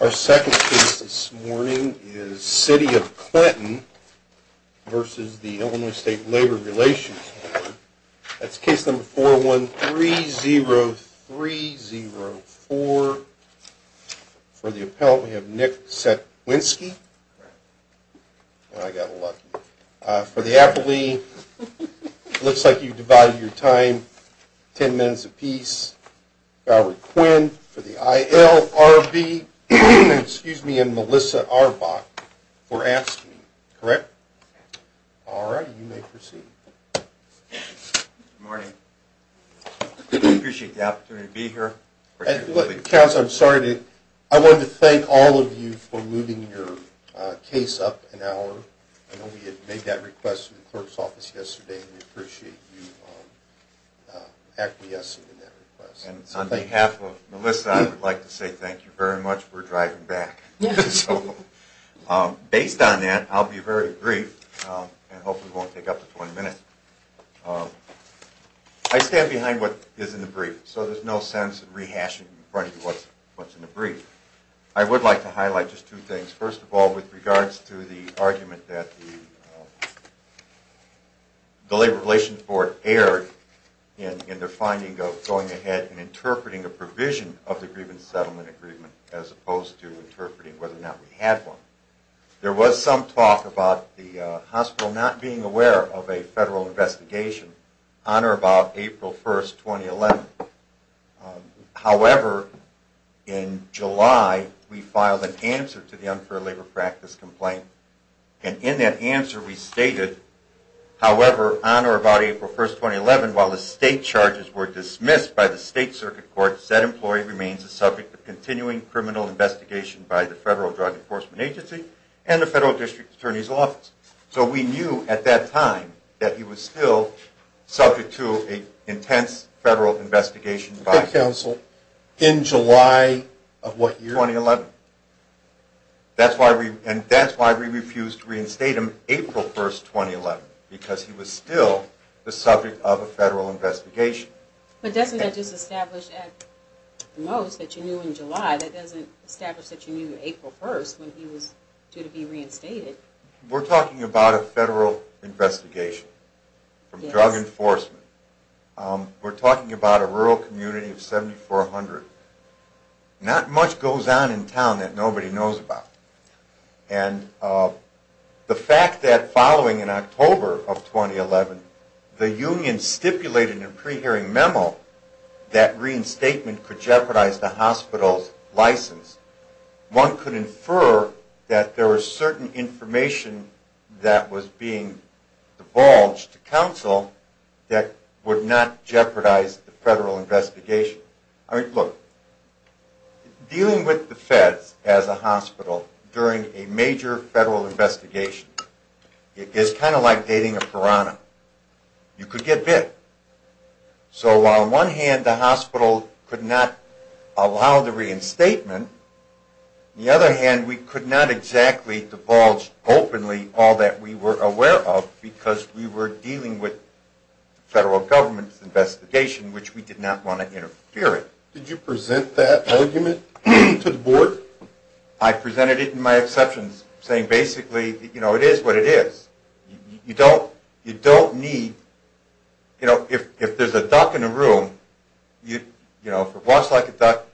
Our second case this morning is City of Clinton v. Illinois State Labor Relations Board. That's case number 4130304. For the appellant, we have Nick Setwinski. I got lucky. For the appellee, it looks like you divided your time 10 minutes apiece. For the appellant, it looks like you divided your time 10 minutes apiece. And Melissa Arbok. For asking. Correct? Alright, you may proceed. Good morning. I appreciate the opportunity to be here. Counsel, I'm sorry to... I want to thank all of you for moving your case up an hour. I know we had made that request to the clerk's office yesterday. And we appreciate you acquiescing to that request. And on behalf of Melissa, I would like to say thank you very much. We're driving back. So based on that, I'll be very brief. And hopefully it won't take up to 20 minutes. I stand behind what is in the brief. So there's no sense in rehashing in front of you what's in the brief. I would like to highlight just two things. First of all, with regards to the argument that the Labor Relations Board erred in their finding of going ahead and interpreting a provision of the grievance settlement agreement as opposed to interpreting whether or not we had one. There was some talk about the hospital not being aware of a federal investigation on or about April 1, 2011. However, in July, we filed an answer to the unfair labor practice complaint. And in that answer, we stated, however, on or about April 1, 2011, while the state charges were dismissed by the State Circuit Court, said employee remains the subject of continuing criminal investigation by the Federal Drug Enforcement Agency and the Federal District Attorney's Office. So we knew, at that time, that he was still subject to an intense federal investigation. By what council? In July of what year? 2011. And that's why we refused to reinstate him April 1, 2011, because he was still the subject of a federal investigation. But doesn't that just establish, at the most, that you knew in July? That doesn't establish that you knew April 1 when he was due to be reinstated. We're talking about a federal investigation from drug enforcement. We're talking about a rural community of 7,400. Not much goes on in town that nobody knows about. And the fact that following in October of 2011, the union stipulated in a pre-hearing memo that reinstatement could jeopardize the hospital's license, one could infer that there was certain information that was being divulged to council that would not jeopardize the federal investigation. Look, dealing with the feds as a hospital during a major federal investigation, it's kind of like dating a piranha. You could get bit. So on one hand, the hospital could not allow the reinstatement. On the other hand, we could not exactly divulge openly all that we were aware of because we were dealing with the federal government's investigation, which we did not want to interfere with. Did you present that argument to the board? I presented it in my exceptions, saying basically, you know, it is what it is. You don't need, you know, if there's a duck in a room, you know, if it walks like a duck,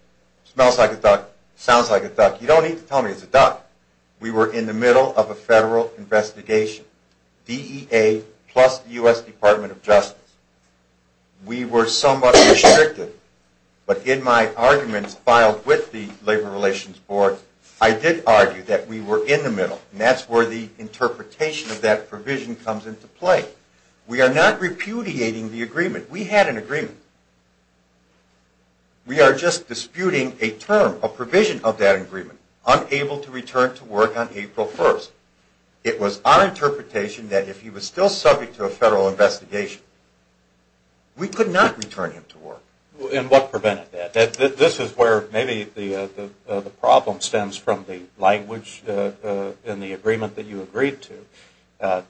smells like a duck, sounds like a duck, you don't need to tell me it's a duck. We were in the middle of a federal investigation, DEA plus the U.S. Department of Justice. We were somewhat restricted. But in my arguments filed with the Labor Relations Board, I did argue that we were in the middle, and that's where the interpretation of that provision comes into play. We are not repudiating the agreement. We had an agreement. We are just disputing a term, a provision of that agreement, unable to return to work on April 1st. It was our interpretation that if he was still subject to a federal investigation, we could not return him to work. And what prevented that? This is where maybe the problem stems from the language in the agreement that you agreed to.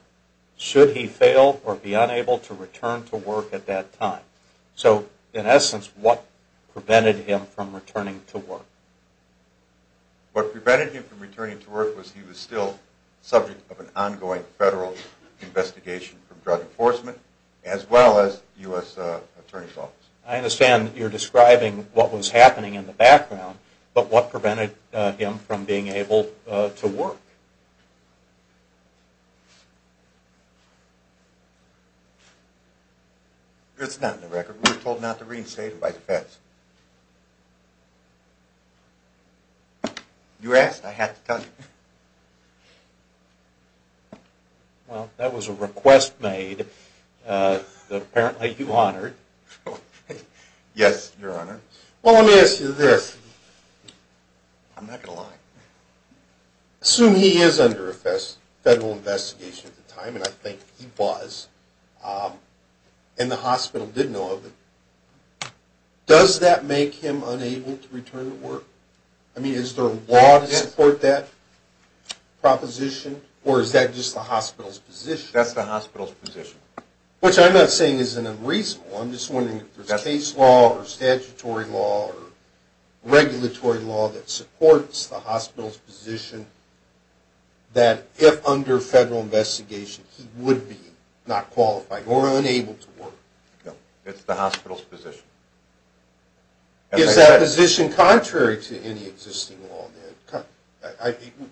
Should he fail or be unable to return to work at that time? So in essence, what prevented him from returning to work? What prevented him from returning to work was he was still subject of an ongoing federal investigation from Drug Enforcement as well as U.S. Attorney's Office. I understand that you're describing what was happening in the background, but what prevented him from being able to work? It's not in the record. We were told not to reinstate him by the feds. You asked, I have to tell you. Well, that was a request made that apparently you honored. Yes, Your Honor. Well, let me ask you this. I'm not going to lie. Assume he is under a federal investigation at the time, and I think he was, and the hospital did know of it. Does that make him unable to return to work? I mean, is there a law to support that? Proposition? Or is that just the hospital's position? That's the hospital's position. Which I'm not saying is unreasonable. I'm just wondering if there's case law or statutory law or regulatory law that supports the hospital's position that if under federal investigation he would be not qualified or unable to work. No, it's the hospital's position. Is that position contrary to any existing law?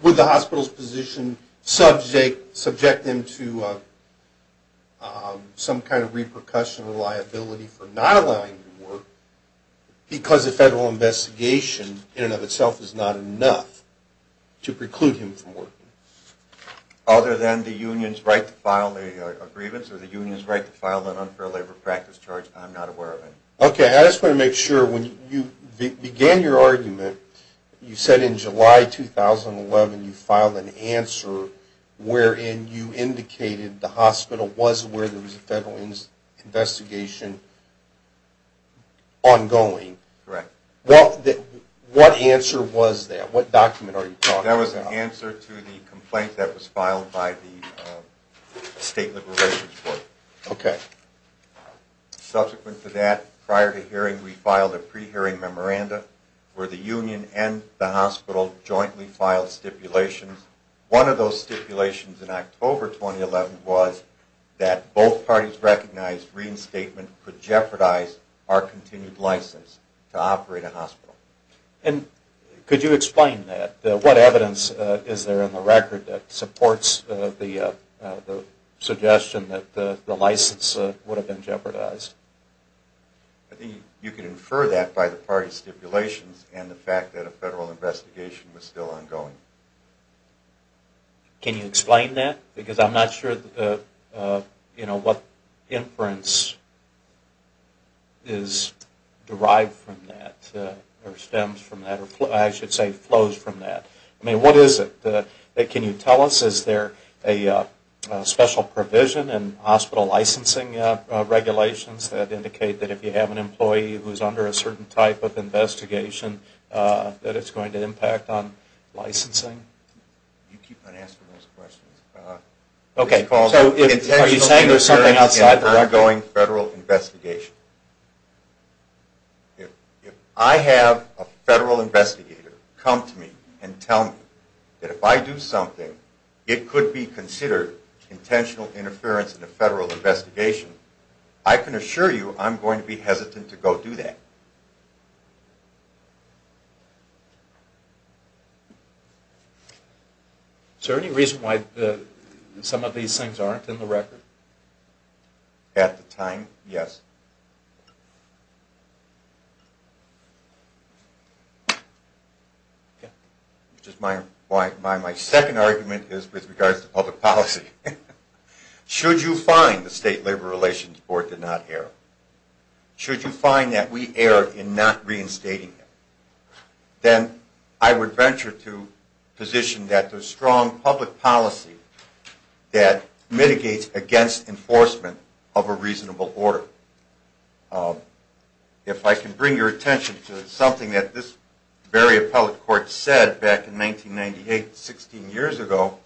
Would the hospital's position subject him to some kind of repercussion or liability for not allowing him to work because a federal investigation in and of itself is not enough to preclude him from working? Other than the union's right to file a grievance or the union's right to file an unfair labor practice charge, I'm not aware of any. Okay, I just want to make sure, when you began your argument, you said in July 2011 you filed an answer wherein you indicated the hospital was aware there was a federal investigation ongoing. Correct. What answer was that? What document are you talking about? That was an answer to the complaint that was filed by the State Liberations Board. Okay. Subsequent to that, prior to hearing, we filed a pre-hearing memoranda where the union and the hospital jointly filed stipulations. One of those stipulations in October 2011 was that both parties recognized reinstatement could jeopardize our continued license to operate a hospital. Could you explain that? What evidence is there in the record that supports the suggestion that the license would have been jeopardized? I think you could infer that by the party stipulations and the fact that a federal investigation was still ongoing. Can you explain that? Because I'm not sure what inference is derived from that or stems from that, or I should say flows from that. I mean, what is it? Can you tell us, is there a special provision in hospital licensing regulations that indicate that if you have an employee who is under a certain type of investigation that it's going to impact on licensing? You keep on asking those questions. Okay. Are you saying there's something outside the record? If I have a federal investigator come to me and tell me that if I do something, it could be considered intentional interference in a federal investigation, I can assure you I'm going to be hesitant to go do that. Is there any reason why some of these things aren't in the record? At the time, yes. My second argument is with regards to public policy. Should you find the State Labor Relations Board did not err, should you find that we erred in not reinstating them, then I would venture to position that there's strong public policy that mitigates against enforcement of a reasonable order. If I can bring your attention to something that this very appellate court said back in 1998, 16 years ago,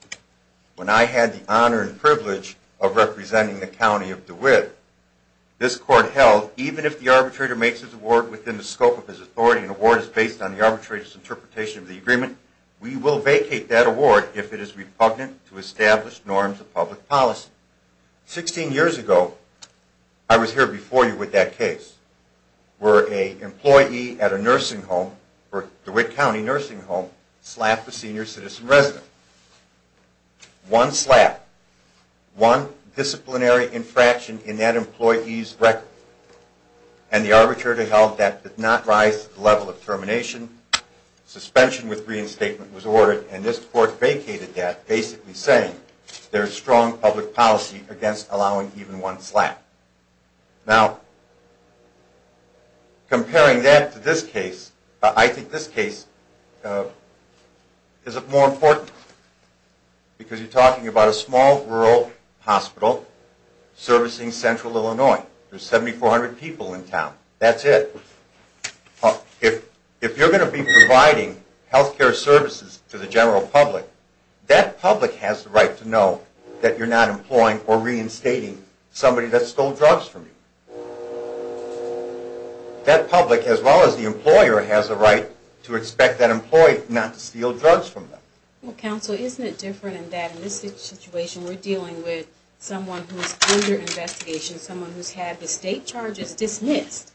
when I had the honor and privilege of representing the County of DeWitt. This court held even if the arbitrator makes his award within the scope of his authority and the award is based on the arbitrator's interpretation of the agreement, we will vacate that award if it is repugnant to established norms of public policy. Sixteen years ago, I was here before you with that case, where an employee at a nursing home, a DeWitt County nursing home, slapped a senior citizen resident. One slap, one disciplinary infraction in that employee's record, and the arbitrator held that did not rise to the level of termination. Suspension with reinstatement was ordered and this court vacated that, basically saying there's strong public policy against allowing even one slap. Now, comparing that to this case, I think this case is more important, because you're talking about a small rural hospital servicing central Illinois. There's 7,400 people in town. That's it. If you're going to be providing health care services to the general public, that public has the right to know that you're not employing or reinstating somebody that stole drugs from you. That public, as well as the employer, has a right to expect that employee not to steal drugs from them. Well, counsel, isn't it different in that in this situation, we're dealing with someone who's under investigation, someone who's had the state charges dismissed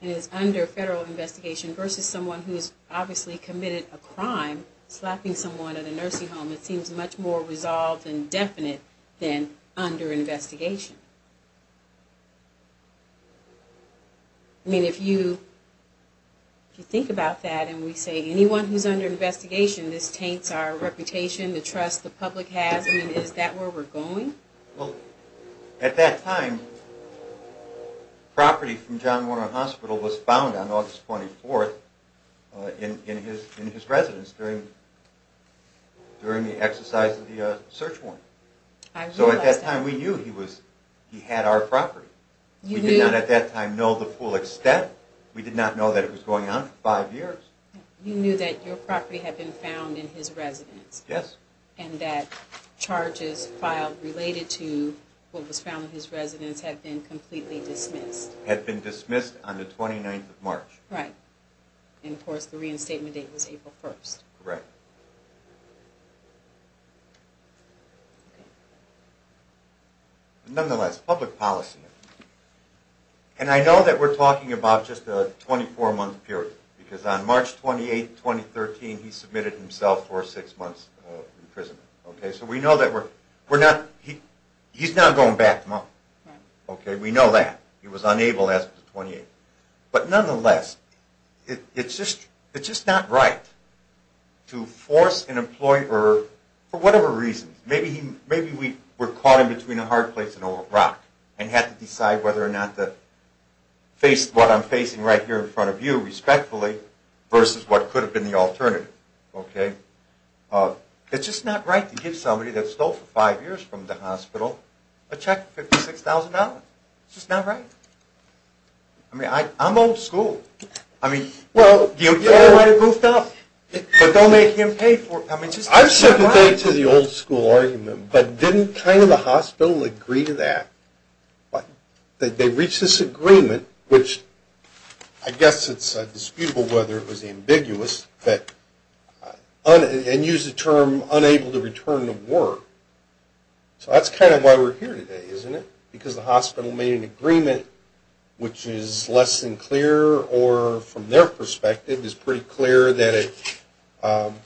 and is under federal investigation versus someone who's obviously committed a crime, slapping someone at a nursing home. It seems much more resolved and definite than under investigation. I mean, if you think about that and we say anyone who's under investigation, this taints our reputation, the trust the public has. I mean, is that where we're going? Well, at that time, property from John Warner Hospital was found on August 24th in his residence during the exercise of the search warrant. So at that time, we knew he had our property. We did not at that time know the full extent. We did not know that it was going on for five years. You knew that your property had been found in his residence? Yes. And that charges filed related to what was found in his residence had been completely dismissed? Had been dismissed on the 29th of March. Right. And, of course, the reinstatement date was April 1st. Correct. Nonetheless, public policy. And I know that we're talking about just a 24-month period because on March 28, 2013, he submitted himself for six months in prison. So we know that we're not – he's now going back a month. Right. Okay, we know that. He was unable after 28. But nonetheless, it's just not right to force an employee or – for whatever reason. Maybe we caught him between a hard place and a rock and had to decide whether or not to face what I'm facing right here in front of you respectfully versus what could have been the alternative. Okay? It's just not right to give somebody that stole for five years from the hospital a check for $56,000. It's just not right. I mean, I'm old school. I mean, they might have goofed up, but they'll make him pay for it. I mean, it's just not right. I'm sympathetic to the old school argument, but didn't kind of the hospital agree to that? They reached this agreement, which I guess it's disputable whether it was ambiguous, and used the term unable to return to work. So that's kind of why we're here today, isn't it? Because the hospital made an agreement which is less than clear or, from their perspective, is pretty clear that it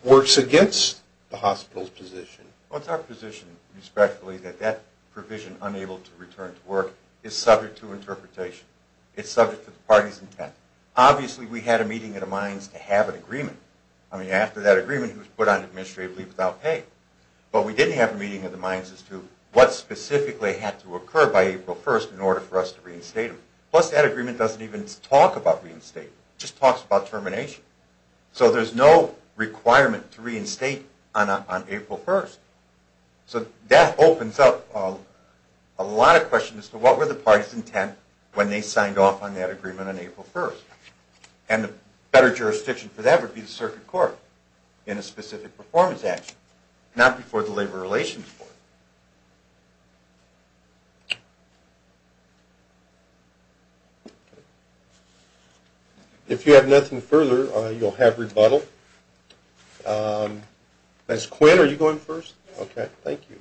works against the hospital's position. Well, it's our position, respectfully, that that provision, unable to return to work, is subject to interpretation. It's subject to the party's intent. Obviously, we had a meeting of the minds to have an agreement. I mean, after that agreement, he was put on administrative leave without pay. But we didn't have a meeting of the minds as to what specifically had to occur by April 1st in order for us to reinstate him. Plus, that agreement doesn't even talk about reinstatement. It just talks about termination. So there's no requirement to reinstate on April 1st. So that opens up a lot of questions as to what were the party's intent when they signed off on that agreement on April 1st. And a better jurisdiction for that would be the circuit court in a specific performance action, not before the Labor Relations Court. If you have nothing further, you'll have rebuttal. Ms. Quinn, are you going first? Okay, thank you.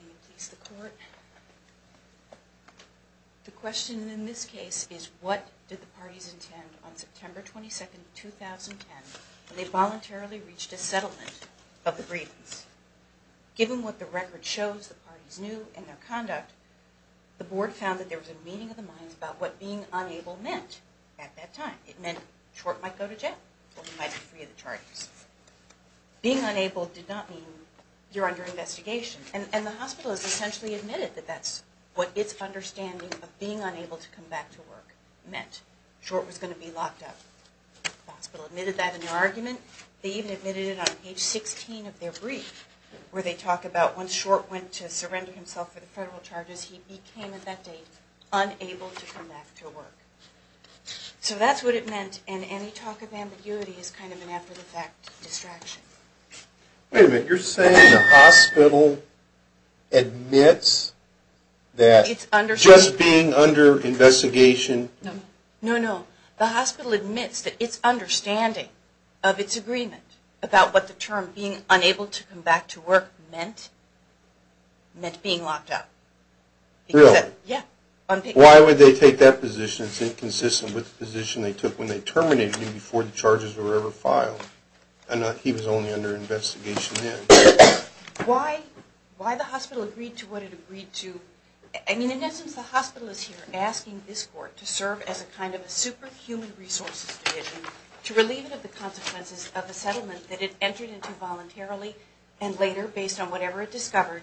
Will you please the court? The question in this case is what did the parties intend on September 22nd, 2010 when they voluntarily reached a settlement of the grievance? Given what the record shows the parties knew in their conduct, the board found that there was a meeting of the minds about what being unable meant at that time. It meant Short might go to jail or he might be free of the charges. Being unable did not mean you're under investigation. And the hospital has essentially admitted that that's what its understanding of being unable to come back to work meant. Short was going to be locked up. The hospital admitted that in their argument. They even admitted it on page 16 of their brief, where they talk about when Short went to surrender himself for the federal charges, he came at that date unable to come back to work. So that's what it meant, and any talk of ambiguity is kind of an after-the-fact distraction. Wait a minute, you're saying the hospital admits that just being under investigation... No, no. The hospital admits that its understanding of its agreement about what the term being unable to come back to work meant, meant being locked up. Really? Yeah. Why would they take that position? It's inconsistent with the position they took when they terminated him before the charges were ever filed. He was only under investigation then. Why the hospital agreed to what it agreed to... I mean, in essence, the hospital is here asking this court to serve as a kind of a superhuman resources division to relieve it of the consequences of the settlement that it entered into voluntarily and later, based on whatever it discovered,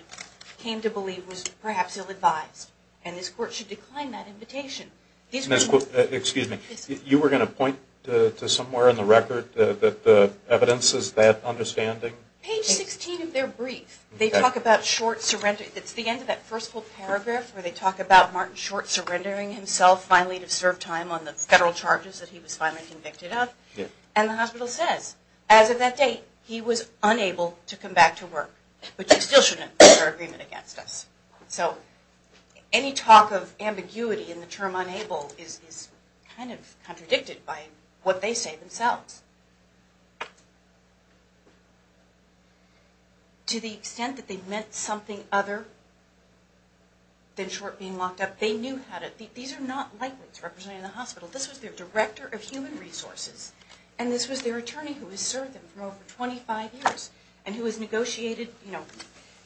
came to believe was perhaps ill-advised. And this court should decline that invitation. Excuse me. You were going to point to somewhere in the record that the evidence is that understanding? Page 16 of their brief. They talk about short surrender. It's the end of that first whole paragraph where they talk about Martin Short surrendering himself finally to serve time on the federal charges that he was finally convicted of, and the hospital says, as of that date, he was unable to come back to work. But you still shouldn't put our agreement against us. So any talk of ambiguity in the term unable is kind of contradicted by what they say themselves. To the extent that they meant something other than Short being locked up, they knew how to... these are not lightweights representing the hospital. This was their director of human resources, and this was their attorney who has served them for over 25 years and who has negotiated, you know,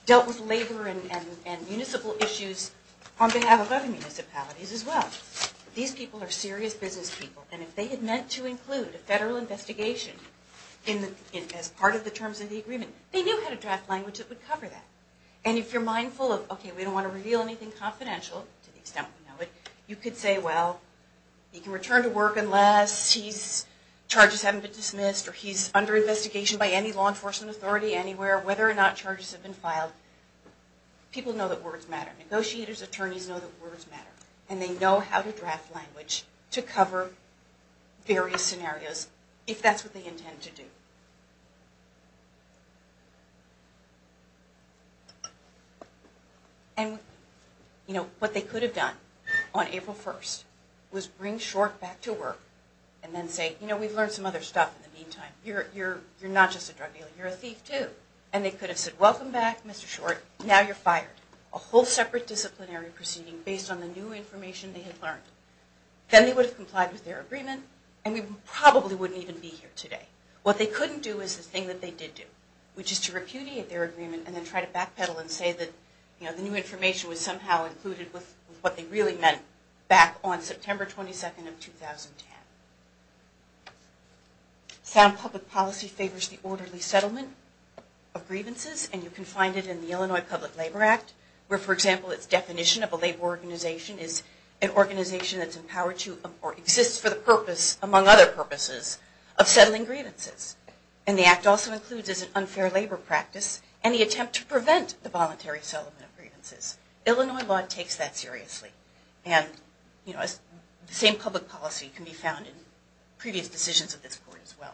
dealt with labor and municipal issues on behalf of other municipalities as well. These people are serious business people, and if they had meant to include a federal investigation as part of the terms of the agreement, they knew how to draft language that would cover that. And if you're mindful of, okay, we don't want to reveal anything confidential to the extent we know it, you could say, well, he can return to work unless he's... charges haven't been dismissed or he's under investigation by any law enforcement authority anywhere, whether or not charges have been filed. People know that words matter. Negotiators, attorneys know that words matter. And they know how to draft language to cover various scenarios, if that's what they intend to do. And, you know, what they could have done on April 1st was bring Short back to work and then say, you know, we've learned some other stuff in the meantime. You're not just a drug dealer, you're a thief too. And they could have said, welcome back, Mr. Short, now you're fired. A whole separate disciplinary proceeding based on the new information they had learned. Then they would have complied with their agreement, and we probably wouldn't even be here today. What they couldn't do is the thing that they did do, which is to repudiate their agreement and then try to backpedal and say that, you know, the new information was somehow included with what they really meant back on September 22nd of 2010. Sound public policy favors the orderly settlement of grievances, and you can find it in the Illinois Public Labor Act, where, for example, its definition of a labor organization is an organization that's empowered to, or exists for the purpose, among other purposes, of settling grievances. And the act also includes as an unfair labor practice any attempt to prevent the voluntary settlement of grievances. Illinois law takes that seriously. And, you know, the same public policy can be found in previous decisions of this court as well.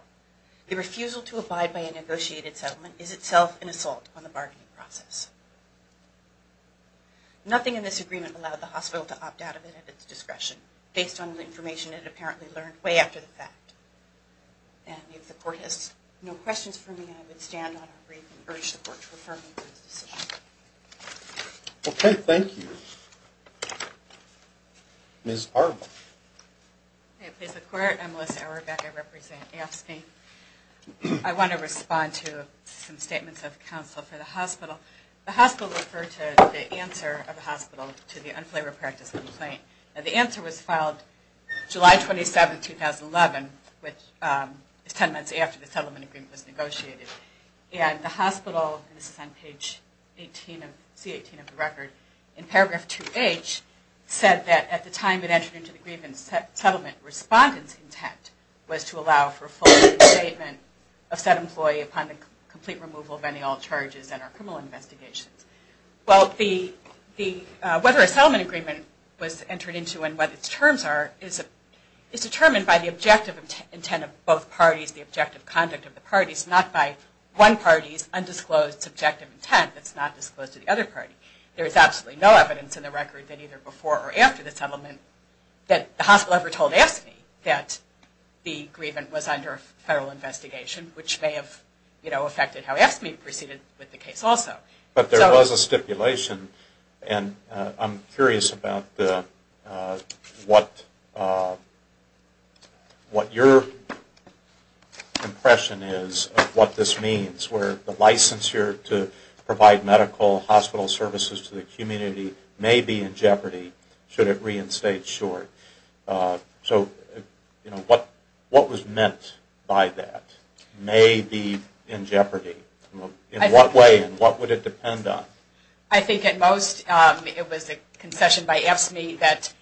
The refusal to abide by a negotiated settlement is itself an assault on the bargaining process. Nothing in this agreement allowed the hospital to opt out of it at its discretion, based on the information it apparently learned way after the fact. And if the court has no questions for me, I would stand on our brief and urge the court to refer me to this decision. Okay, thank you. Ms. Arbon. Okay, please, the court. I'm Melissa Arbon, I represent AFSCME. I want to respond to some statements of counsel for the hospital. The hospital referred to the answer of the hospital to the unfavorable practice complaint. And the answer was filed July 27, 2011, which is 10 months after the settlement agreement was negotiated. And the hospital, and this is on page C18 of the record, in paragraph 2H, said that at the time it entered into the grievance settlement, respondent's intent was to allow for a full reinstatement of said employee upon the complete removal of any all charges and our criminal investigations. Well, whether a settlement agreement was entered into and what its terms are is determined by the objective intent of both parties, the objective conduct of the parties, not by one party's undisclosed subjective intent that's not disclosed to the other party. There is absolutely no evidence in the record that either before or after the settlement that the hospital ever told AFSCME that the grievance was under federal investigation, which may have, you know, affected how AFSCME proceeded with the case also. But there was a stipulation, and I'm curious about what your impression is of what this means, where the licensure to provide medical hospital services to the community may be in jeopardy should it reinstate short. So, you know, what was meant by that? May be in jeopardy. In what way and what would it depend on? I think at most it was a concession by AFSCME that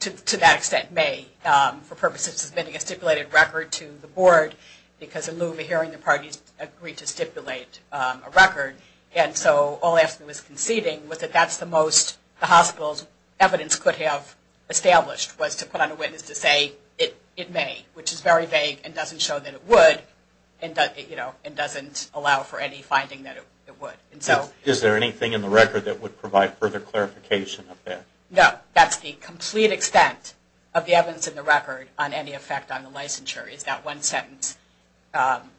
to that extent may, for purposes of submitting a stipulated record to the board, because in lieu of hearing the parties agreed to stipulate a record, and so all AFSCME was conceding was that that's the most the hospital's evidence could have established, was to put on a witness to say it may, which is very vague and doesn't show that it would, and doesn't allow for any finding that it would. Is there anything in the record that would provide further clarification of that? No, that's the complete extent of the evidence in the record on any effect on the licensure, is that one sentence,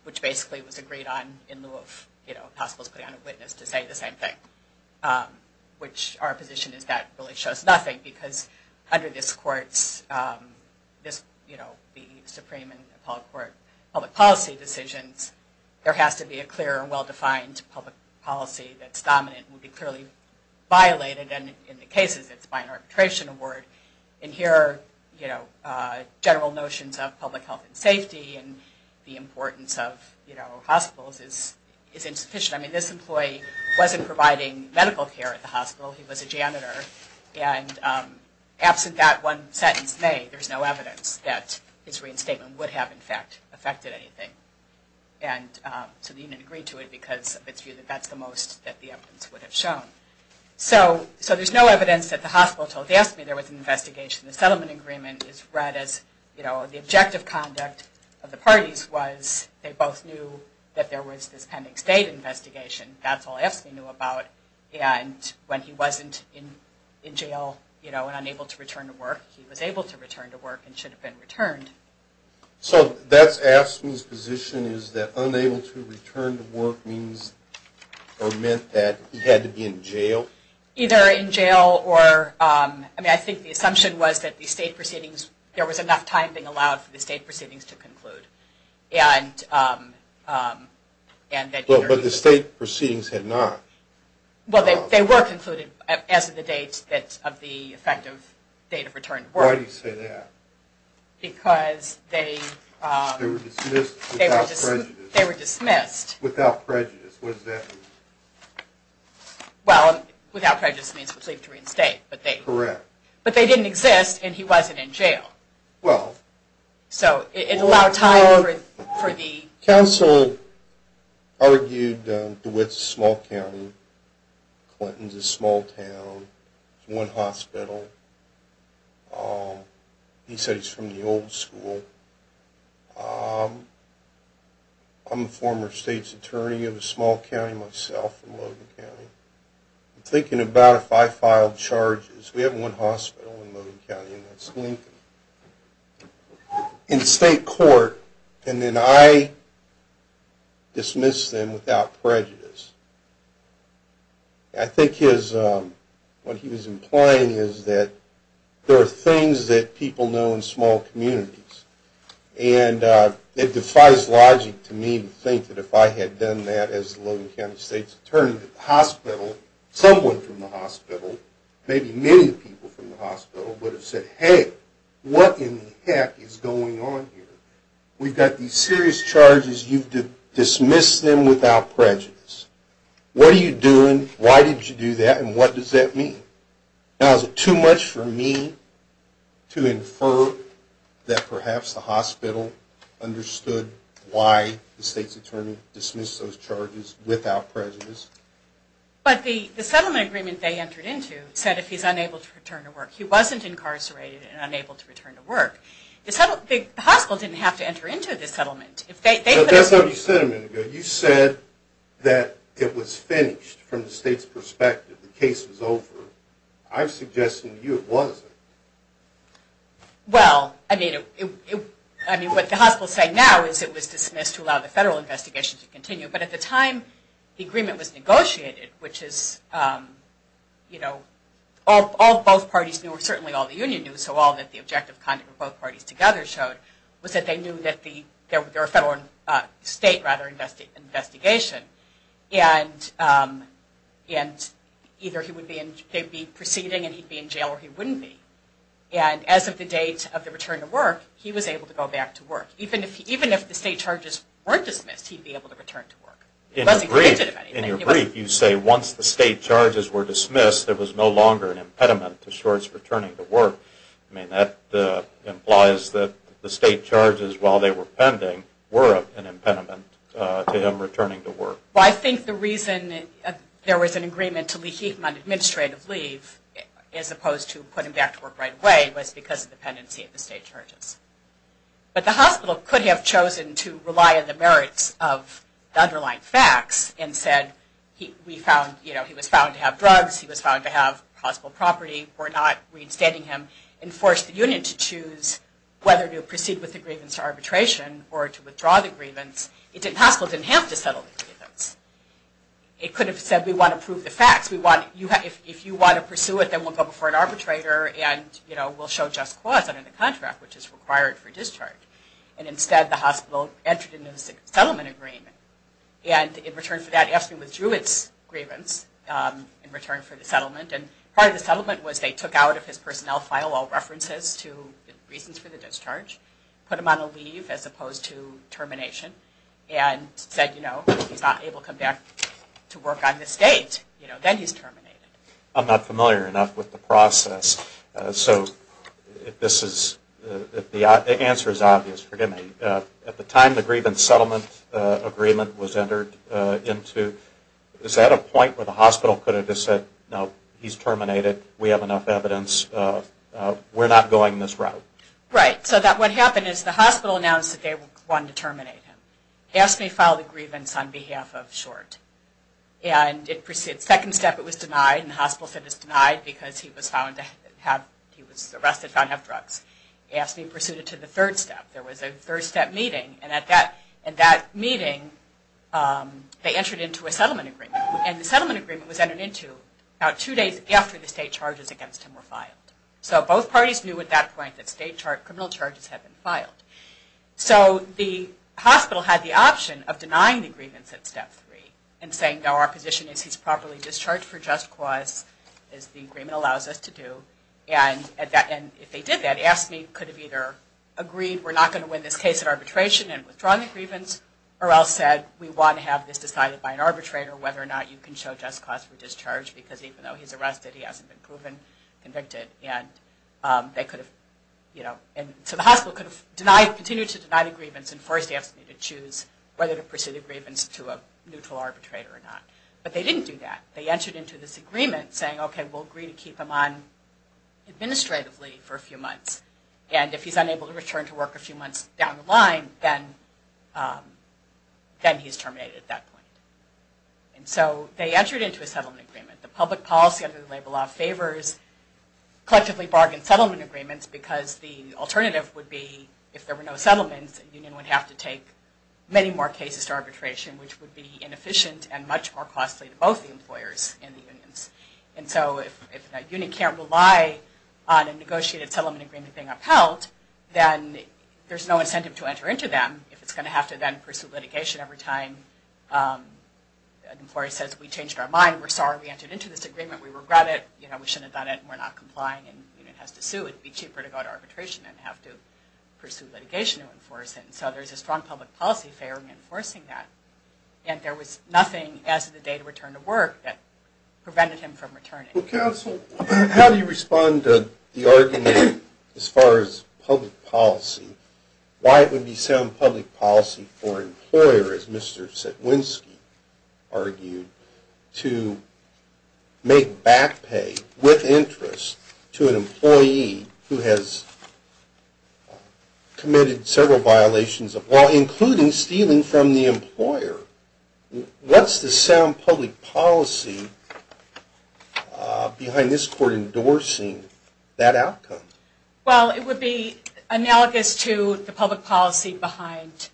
which basically was agreed on in lieu of hospitals putting on a witness to say the same thing, which our position is that really shows nothing, because under this court's, you know, the Supreme and Appellate Court public policy decisions, there has to be a clear and well-defined public policy that's dominant and would be clearly violated, and in the cases it's by an arbitration award, and here, you know, general notions of public health and safety and the importance of, you know, hospitals is insufficient. I mean, this employee wasn't providing medical care at the hospital. He was a janitor, and absent that one sentence made, there's no evidence that his reinstatement would have, in fact, affected anything. And so the unit agreed to it because of its view that that's the most that the evidence would have shown. So there's no evidence that the hospital told AFSCME there was an investigation. The settlement agreement is read as, you know, the objective conduct of the parties was they both knew that there was this pending state investigation. That's all AFSCME knew about. And when he wasn't in jail, you know, and unable to return to work, he was able to return to work and should have been returned. So that's AFSCME's position is that unable to return to work means or meant that he had to be in jail? Either in jail or, I mean, I think the assumption was that the state proceedings, there was enough time being allowed for the state proceedings to conclude. But the state proceedings had not. Well, they were concluded as of the date of the effective date of return to work. Why do you say that? Because they were dismissed. Without prejudice. Without prejudice. What does that mean? Well, without prejudice means he was able to reinstate. Correct. But they didn't exist, and he wasn't in jail. Well. So it allowed time for the... Counsel argued DeWitt's a small county, Clinton's a small town, one hospital. He said he's from the old school. I'm a former state's attorney of a small county myself in Logan County. I'm thinking about if I filed charges. We have one hospital in Logan County and that's Lincoln. In state court, and then I dismiss them without prejudice. I think his, what he was implying is that there are things that people know in small communities. And it defies logic to me to think that if I had done that as Logan County State's Attorney, that the hospital, someone from the hospital, maybe many people from the hospital, would have said, hey, what in the heck is going on here? We've got these serious charges, you've dismissed them without prejudice. What are you doing, why did you do that, and what does that mean? Now is it too much for me to infer that perhaps the hospital understood why the state's attorney dismissed those charges without prejudice? But the settlement agreement they entered into said if he's unable to return to work. He's incarcerated and unable to return to work. The hospital didn't have to enter into the settlement. That's what you said a minute ago. You said that it was finished from the state's perspective. The case was over. I'm suggesting to you it wasn't. Well, I mean, what the hospitals say now is it was dismissed to allow the federal investigation to continue. But at the time, the agreement was negotiated, which is, you know, both parties knew, or certainly all the union knew, so all that the objective conduct of both parties together showed was that they knew that there were federal and state, rather, investigation. And either he would be proceeding and he'd be in jail or he wouldn't be. And as of the date of the return to work, he was able to go back to work. Even if the state charges weren't dismissed, he'd be able to return to work. In your brief, you say once the state charges were dismissed, there was an impediment to Schwartz returning to work. I mean, that implies that the state charges, while they were pending, were an impediment to him returning to work. Well, I think the reason there was an agreement to leave him on administrative leave, as opposed to put him back to work right away, was because of the pendency of the state charges. But the hospital could have chosen to rely on the merits of the underlying facts and said, he was found to have drugs, he was found to have possible property, we're not reinstating him, and forced the union to choose whether to proceed with the grievance arbitration or to withdraw the grievance. The hospital didn't have to settle the grievance. It could have said, we want to prove the facts. If you want to pursue it, then we'll go before an arbitrator and we'll show just cause under the contract, which is required for discharge. And instead, the hospital entered into a settlement agreement. And in return for that, AFSCME withdrew its grievance in return for the settlement. And part of the settlement was they took out of his personnel file all references to the reasons for the discharge, put him on a leave as opposed to termination, and said, you know, he's not able to come back to work on this date. You know, then he's terminated. I'm not familiar enough with the process. So, if this is, if the answer is obvious, forgive me. At the time the grievance settlement agreement was entered into, is that a point where the hospital could have just said, no, he's terminated. We have enough evidence. We're not going this route. Right. So what happened is the hospital announced that they wanted to terminate him. AFSCME filed a grievance on behalf of Short. And it proceeded, second step it was denied, and the hospital said it was denied because he was found to have, he was arrested, found to have drugs. AFSCME pursued it to the third step. And at that meeting, they entered into a settlement agreement. And the settlement agreement was entered into about two days after the state charges against him were filed. So both parties knew at that point that state charges, criminal charges had been filed. So the hospital had the option of denying the grievance at step three and saying, no, our position is he's properly discharged for just cause, as the agreement allows us to do. And if they did that, AFSCME could have either agreed, we're not going to win this case at arbitration and withdrawn the grievance, or else said, we want to have this decided by an arbitrator whether or not you can show just cause for discharge, because even though he's arrested, he hasn't been proven convicted. And they could have, you know, and so the hospital could have denied, continued to deny the grievance and forced AFSCME to choose whether to pursue the grievance to a neutral arbitrator or not. But they didn't do that. They entered into this agreement saying, okay, we'll agree to keep him on administrative leave for a few months. And if he's unable to return to work a few months down the line, then he's terminated at that point. And so they entered into a settlement agreement. The public policy under the labor law favors collectively bargained settlement agreements because the alternative would be, if there were no settlements, a union would have to take many more cases to arbitration, which would be inefficient and much more costly to both the employers and the unions. And so if a union can't rely on a negotiated settlement agreement to keep everything upheld, then there's no incentive to enter into them if it's going to have to then pursue litigation every time an employee says, we changed our mind. We're sorry we entered into this agreement. We regret it. You know, we shouldn't have done it. We're not complying. And the union has to sue. It would be cheaper to go to arbitration than have to pursue litigation to enforce it. And so there's a strong public policy favoring enforcing that. And there was nothing as of the date of return to work that prevented him from returning. As far as public policy, why it would be sound public policy for an employer, as Mr. Sikwinski argued, to make back pay with interest to an employee who has committed several violations of law, including stealing from the employer. What's the sound public policy behind this court endorsing that outcome? Well, it would be analogous to the public policy behind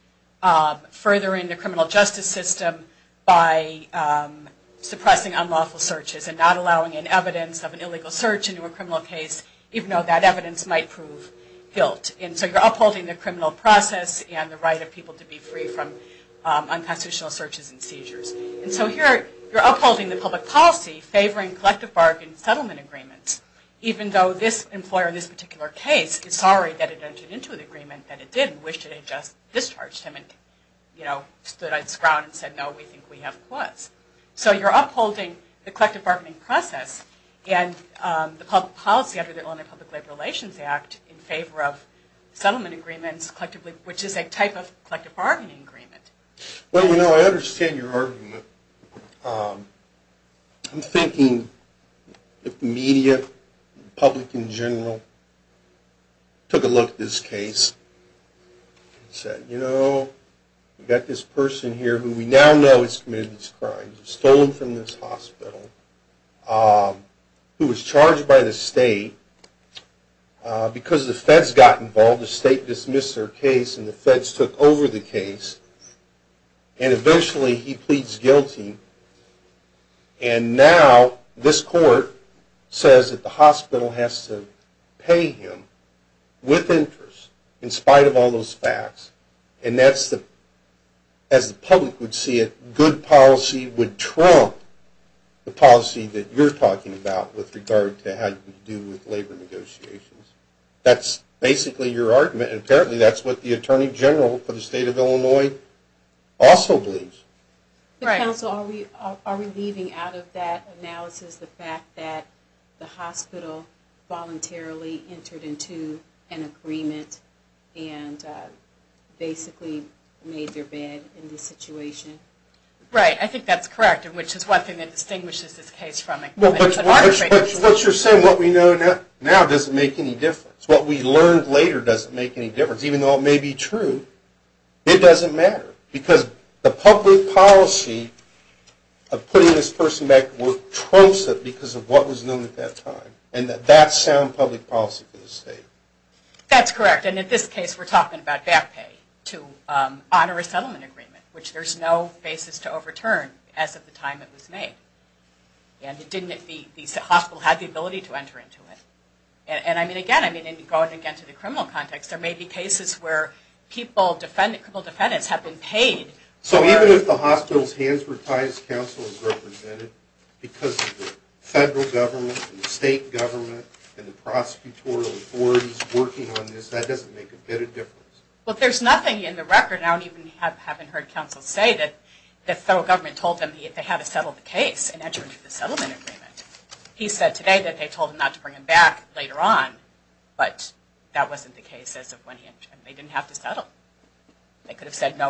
furthering the criminal justice system by suppressing unlawful searches and not allowing in evidence of an illegal search into a criminal case, even though that evidence might prove guilt. And so you're upholding the criminal process and the right of people to be free from unconstitutional searches and seizures. And so here you're upholding the public policy favoring collective bargain settlement agreements, even though this employer in this particular case is sorry that it entered into an agreement that it didn't and wished it had just discharged him and stood on its ground and said, no, we think we have cause. So you're upholding the collective bargaining process and the public policy under the Illinois Public Labor Relations Act in favor of settlement agreements, which is a type of collective bargaining agreement. Well, you know, I understand your argument. I'm thinking if the media, public in general, took a look at this case and said, you know, we've got this person here who we now know has committed these crimes, stolen from this hospital, who was charged by the state because the feds got involved. The state dismissed their case and the feds took over the case. And eventually he pleads guilty and now this court says that the hospital has to pay him with interest in spite of all those facts. And that's the, as the public would see it, good policy would trump the policy that you're talking about with regard to how you can do with labor negotiations. That's basically your argument and apparently that's what the attorney general for the state of Illinois also believes. Right. So are we leaving out of that analysis the fact that the hospital voluntarily entered into an agreement and basically made their bed in this situation? Right. I think that's correct, which is one thing that distinguishes this case from it. But what you're saying, what we know now doesn't make any difference. What we learned later doesn't make any difference. Even though it may be true, it doesn't matter because the public policy of putting this person back would trumps it because of what was known at that time. And that's sound public policy for the state. That's correct. And in this case we're talking about back pay to honor a settlement agreement, which there's no basis to overturn as of the time it was made. And it didn't, the hospital had the ability to enter into it. And I mean again, I mean going again to the criminal context, there may be cases where people, they were paid. So even if the hospital's hands were tied as counsel is represented because of the federal government and the state government and the prosecutorial authorities working on this, that doesn't make a bit of difference? Well, there's nothing in the record, and I haven't even heard counsel say that the federal government told them they had to settle the case and enter into the settlement agreement. He said today that they told him not to bring him back later on, but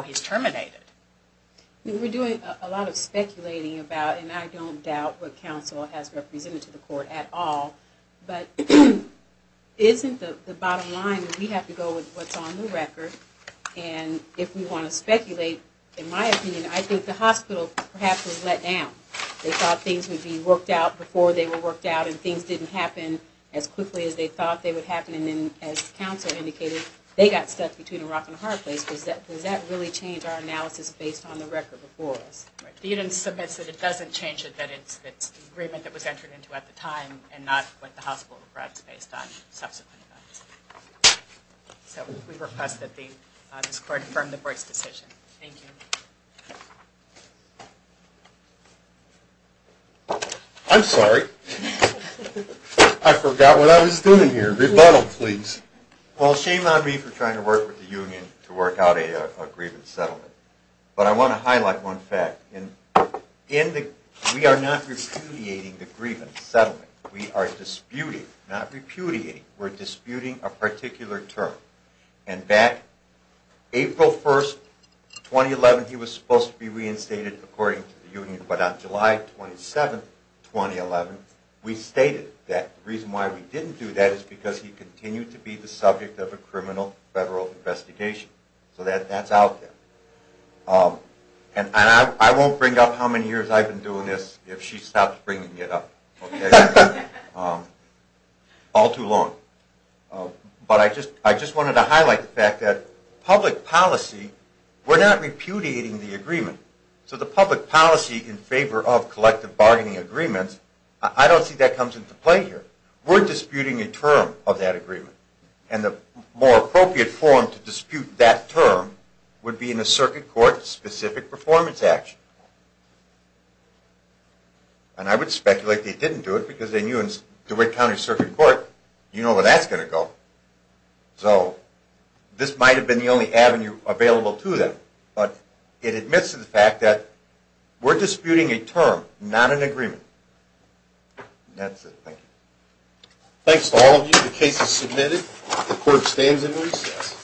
to terminate it. We're doing a lot of speculating about, and I don't doubt what counsel has represented to the court at all, but isn't the bottom line that we have to go with what's on the record? And if we want to speculate, in my opinion, I think the hospital perhaps was let down. They thought things would be worked out before they were worked out and things didn't happen as quickly as they thought they would happen. And then as counsel indicated, they got stuck between a rock and a hard place. Does that really change our analysis based on the record before us? The unit submits that it doesn't change it, that it's the agreement that was entered into at the time and not what the hospital reprised based on subsequent events. So we request that this court affirm the boy's decision. Thank you. I'm sorry. I forgot what I was doing here. Rebuttal, please. Well, shame on me for trying to work with the union to work out a grievance settlement. But I want to highlight one fact. We are not repudiating the grievance settlement. We are disputing, not repudiating, we're disputing a particular term. And back April 1, 2011, he was supposed to be reinstated according to the union, but on July 27, 2011, we stated that. The reason why we didn't do that was because that would be the subject of a criminal federal investigation. So that's out there. And I won't bring up how many years I've been doing this if she stops bringing it up. All too long. But I just wanted to highlight the fact that public policy, we're not repudiating the agreement. So the public policy in favor of collective bargaining agreements, I don't see that comes into play here. We're disputing a term and the more appropriate form to dispute that term would be in a circuit court specific performance action. And I would speculate they didn't do it because they knew in DeWitt County Circuit Court you know where that's going to go. So this might have been the only avenue available to them. But it admits to the fact that we're disputing a term, not an agreement. And that's it. Thank you. Thanks to all of you. The case is submitted. The court stands in recess.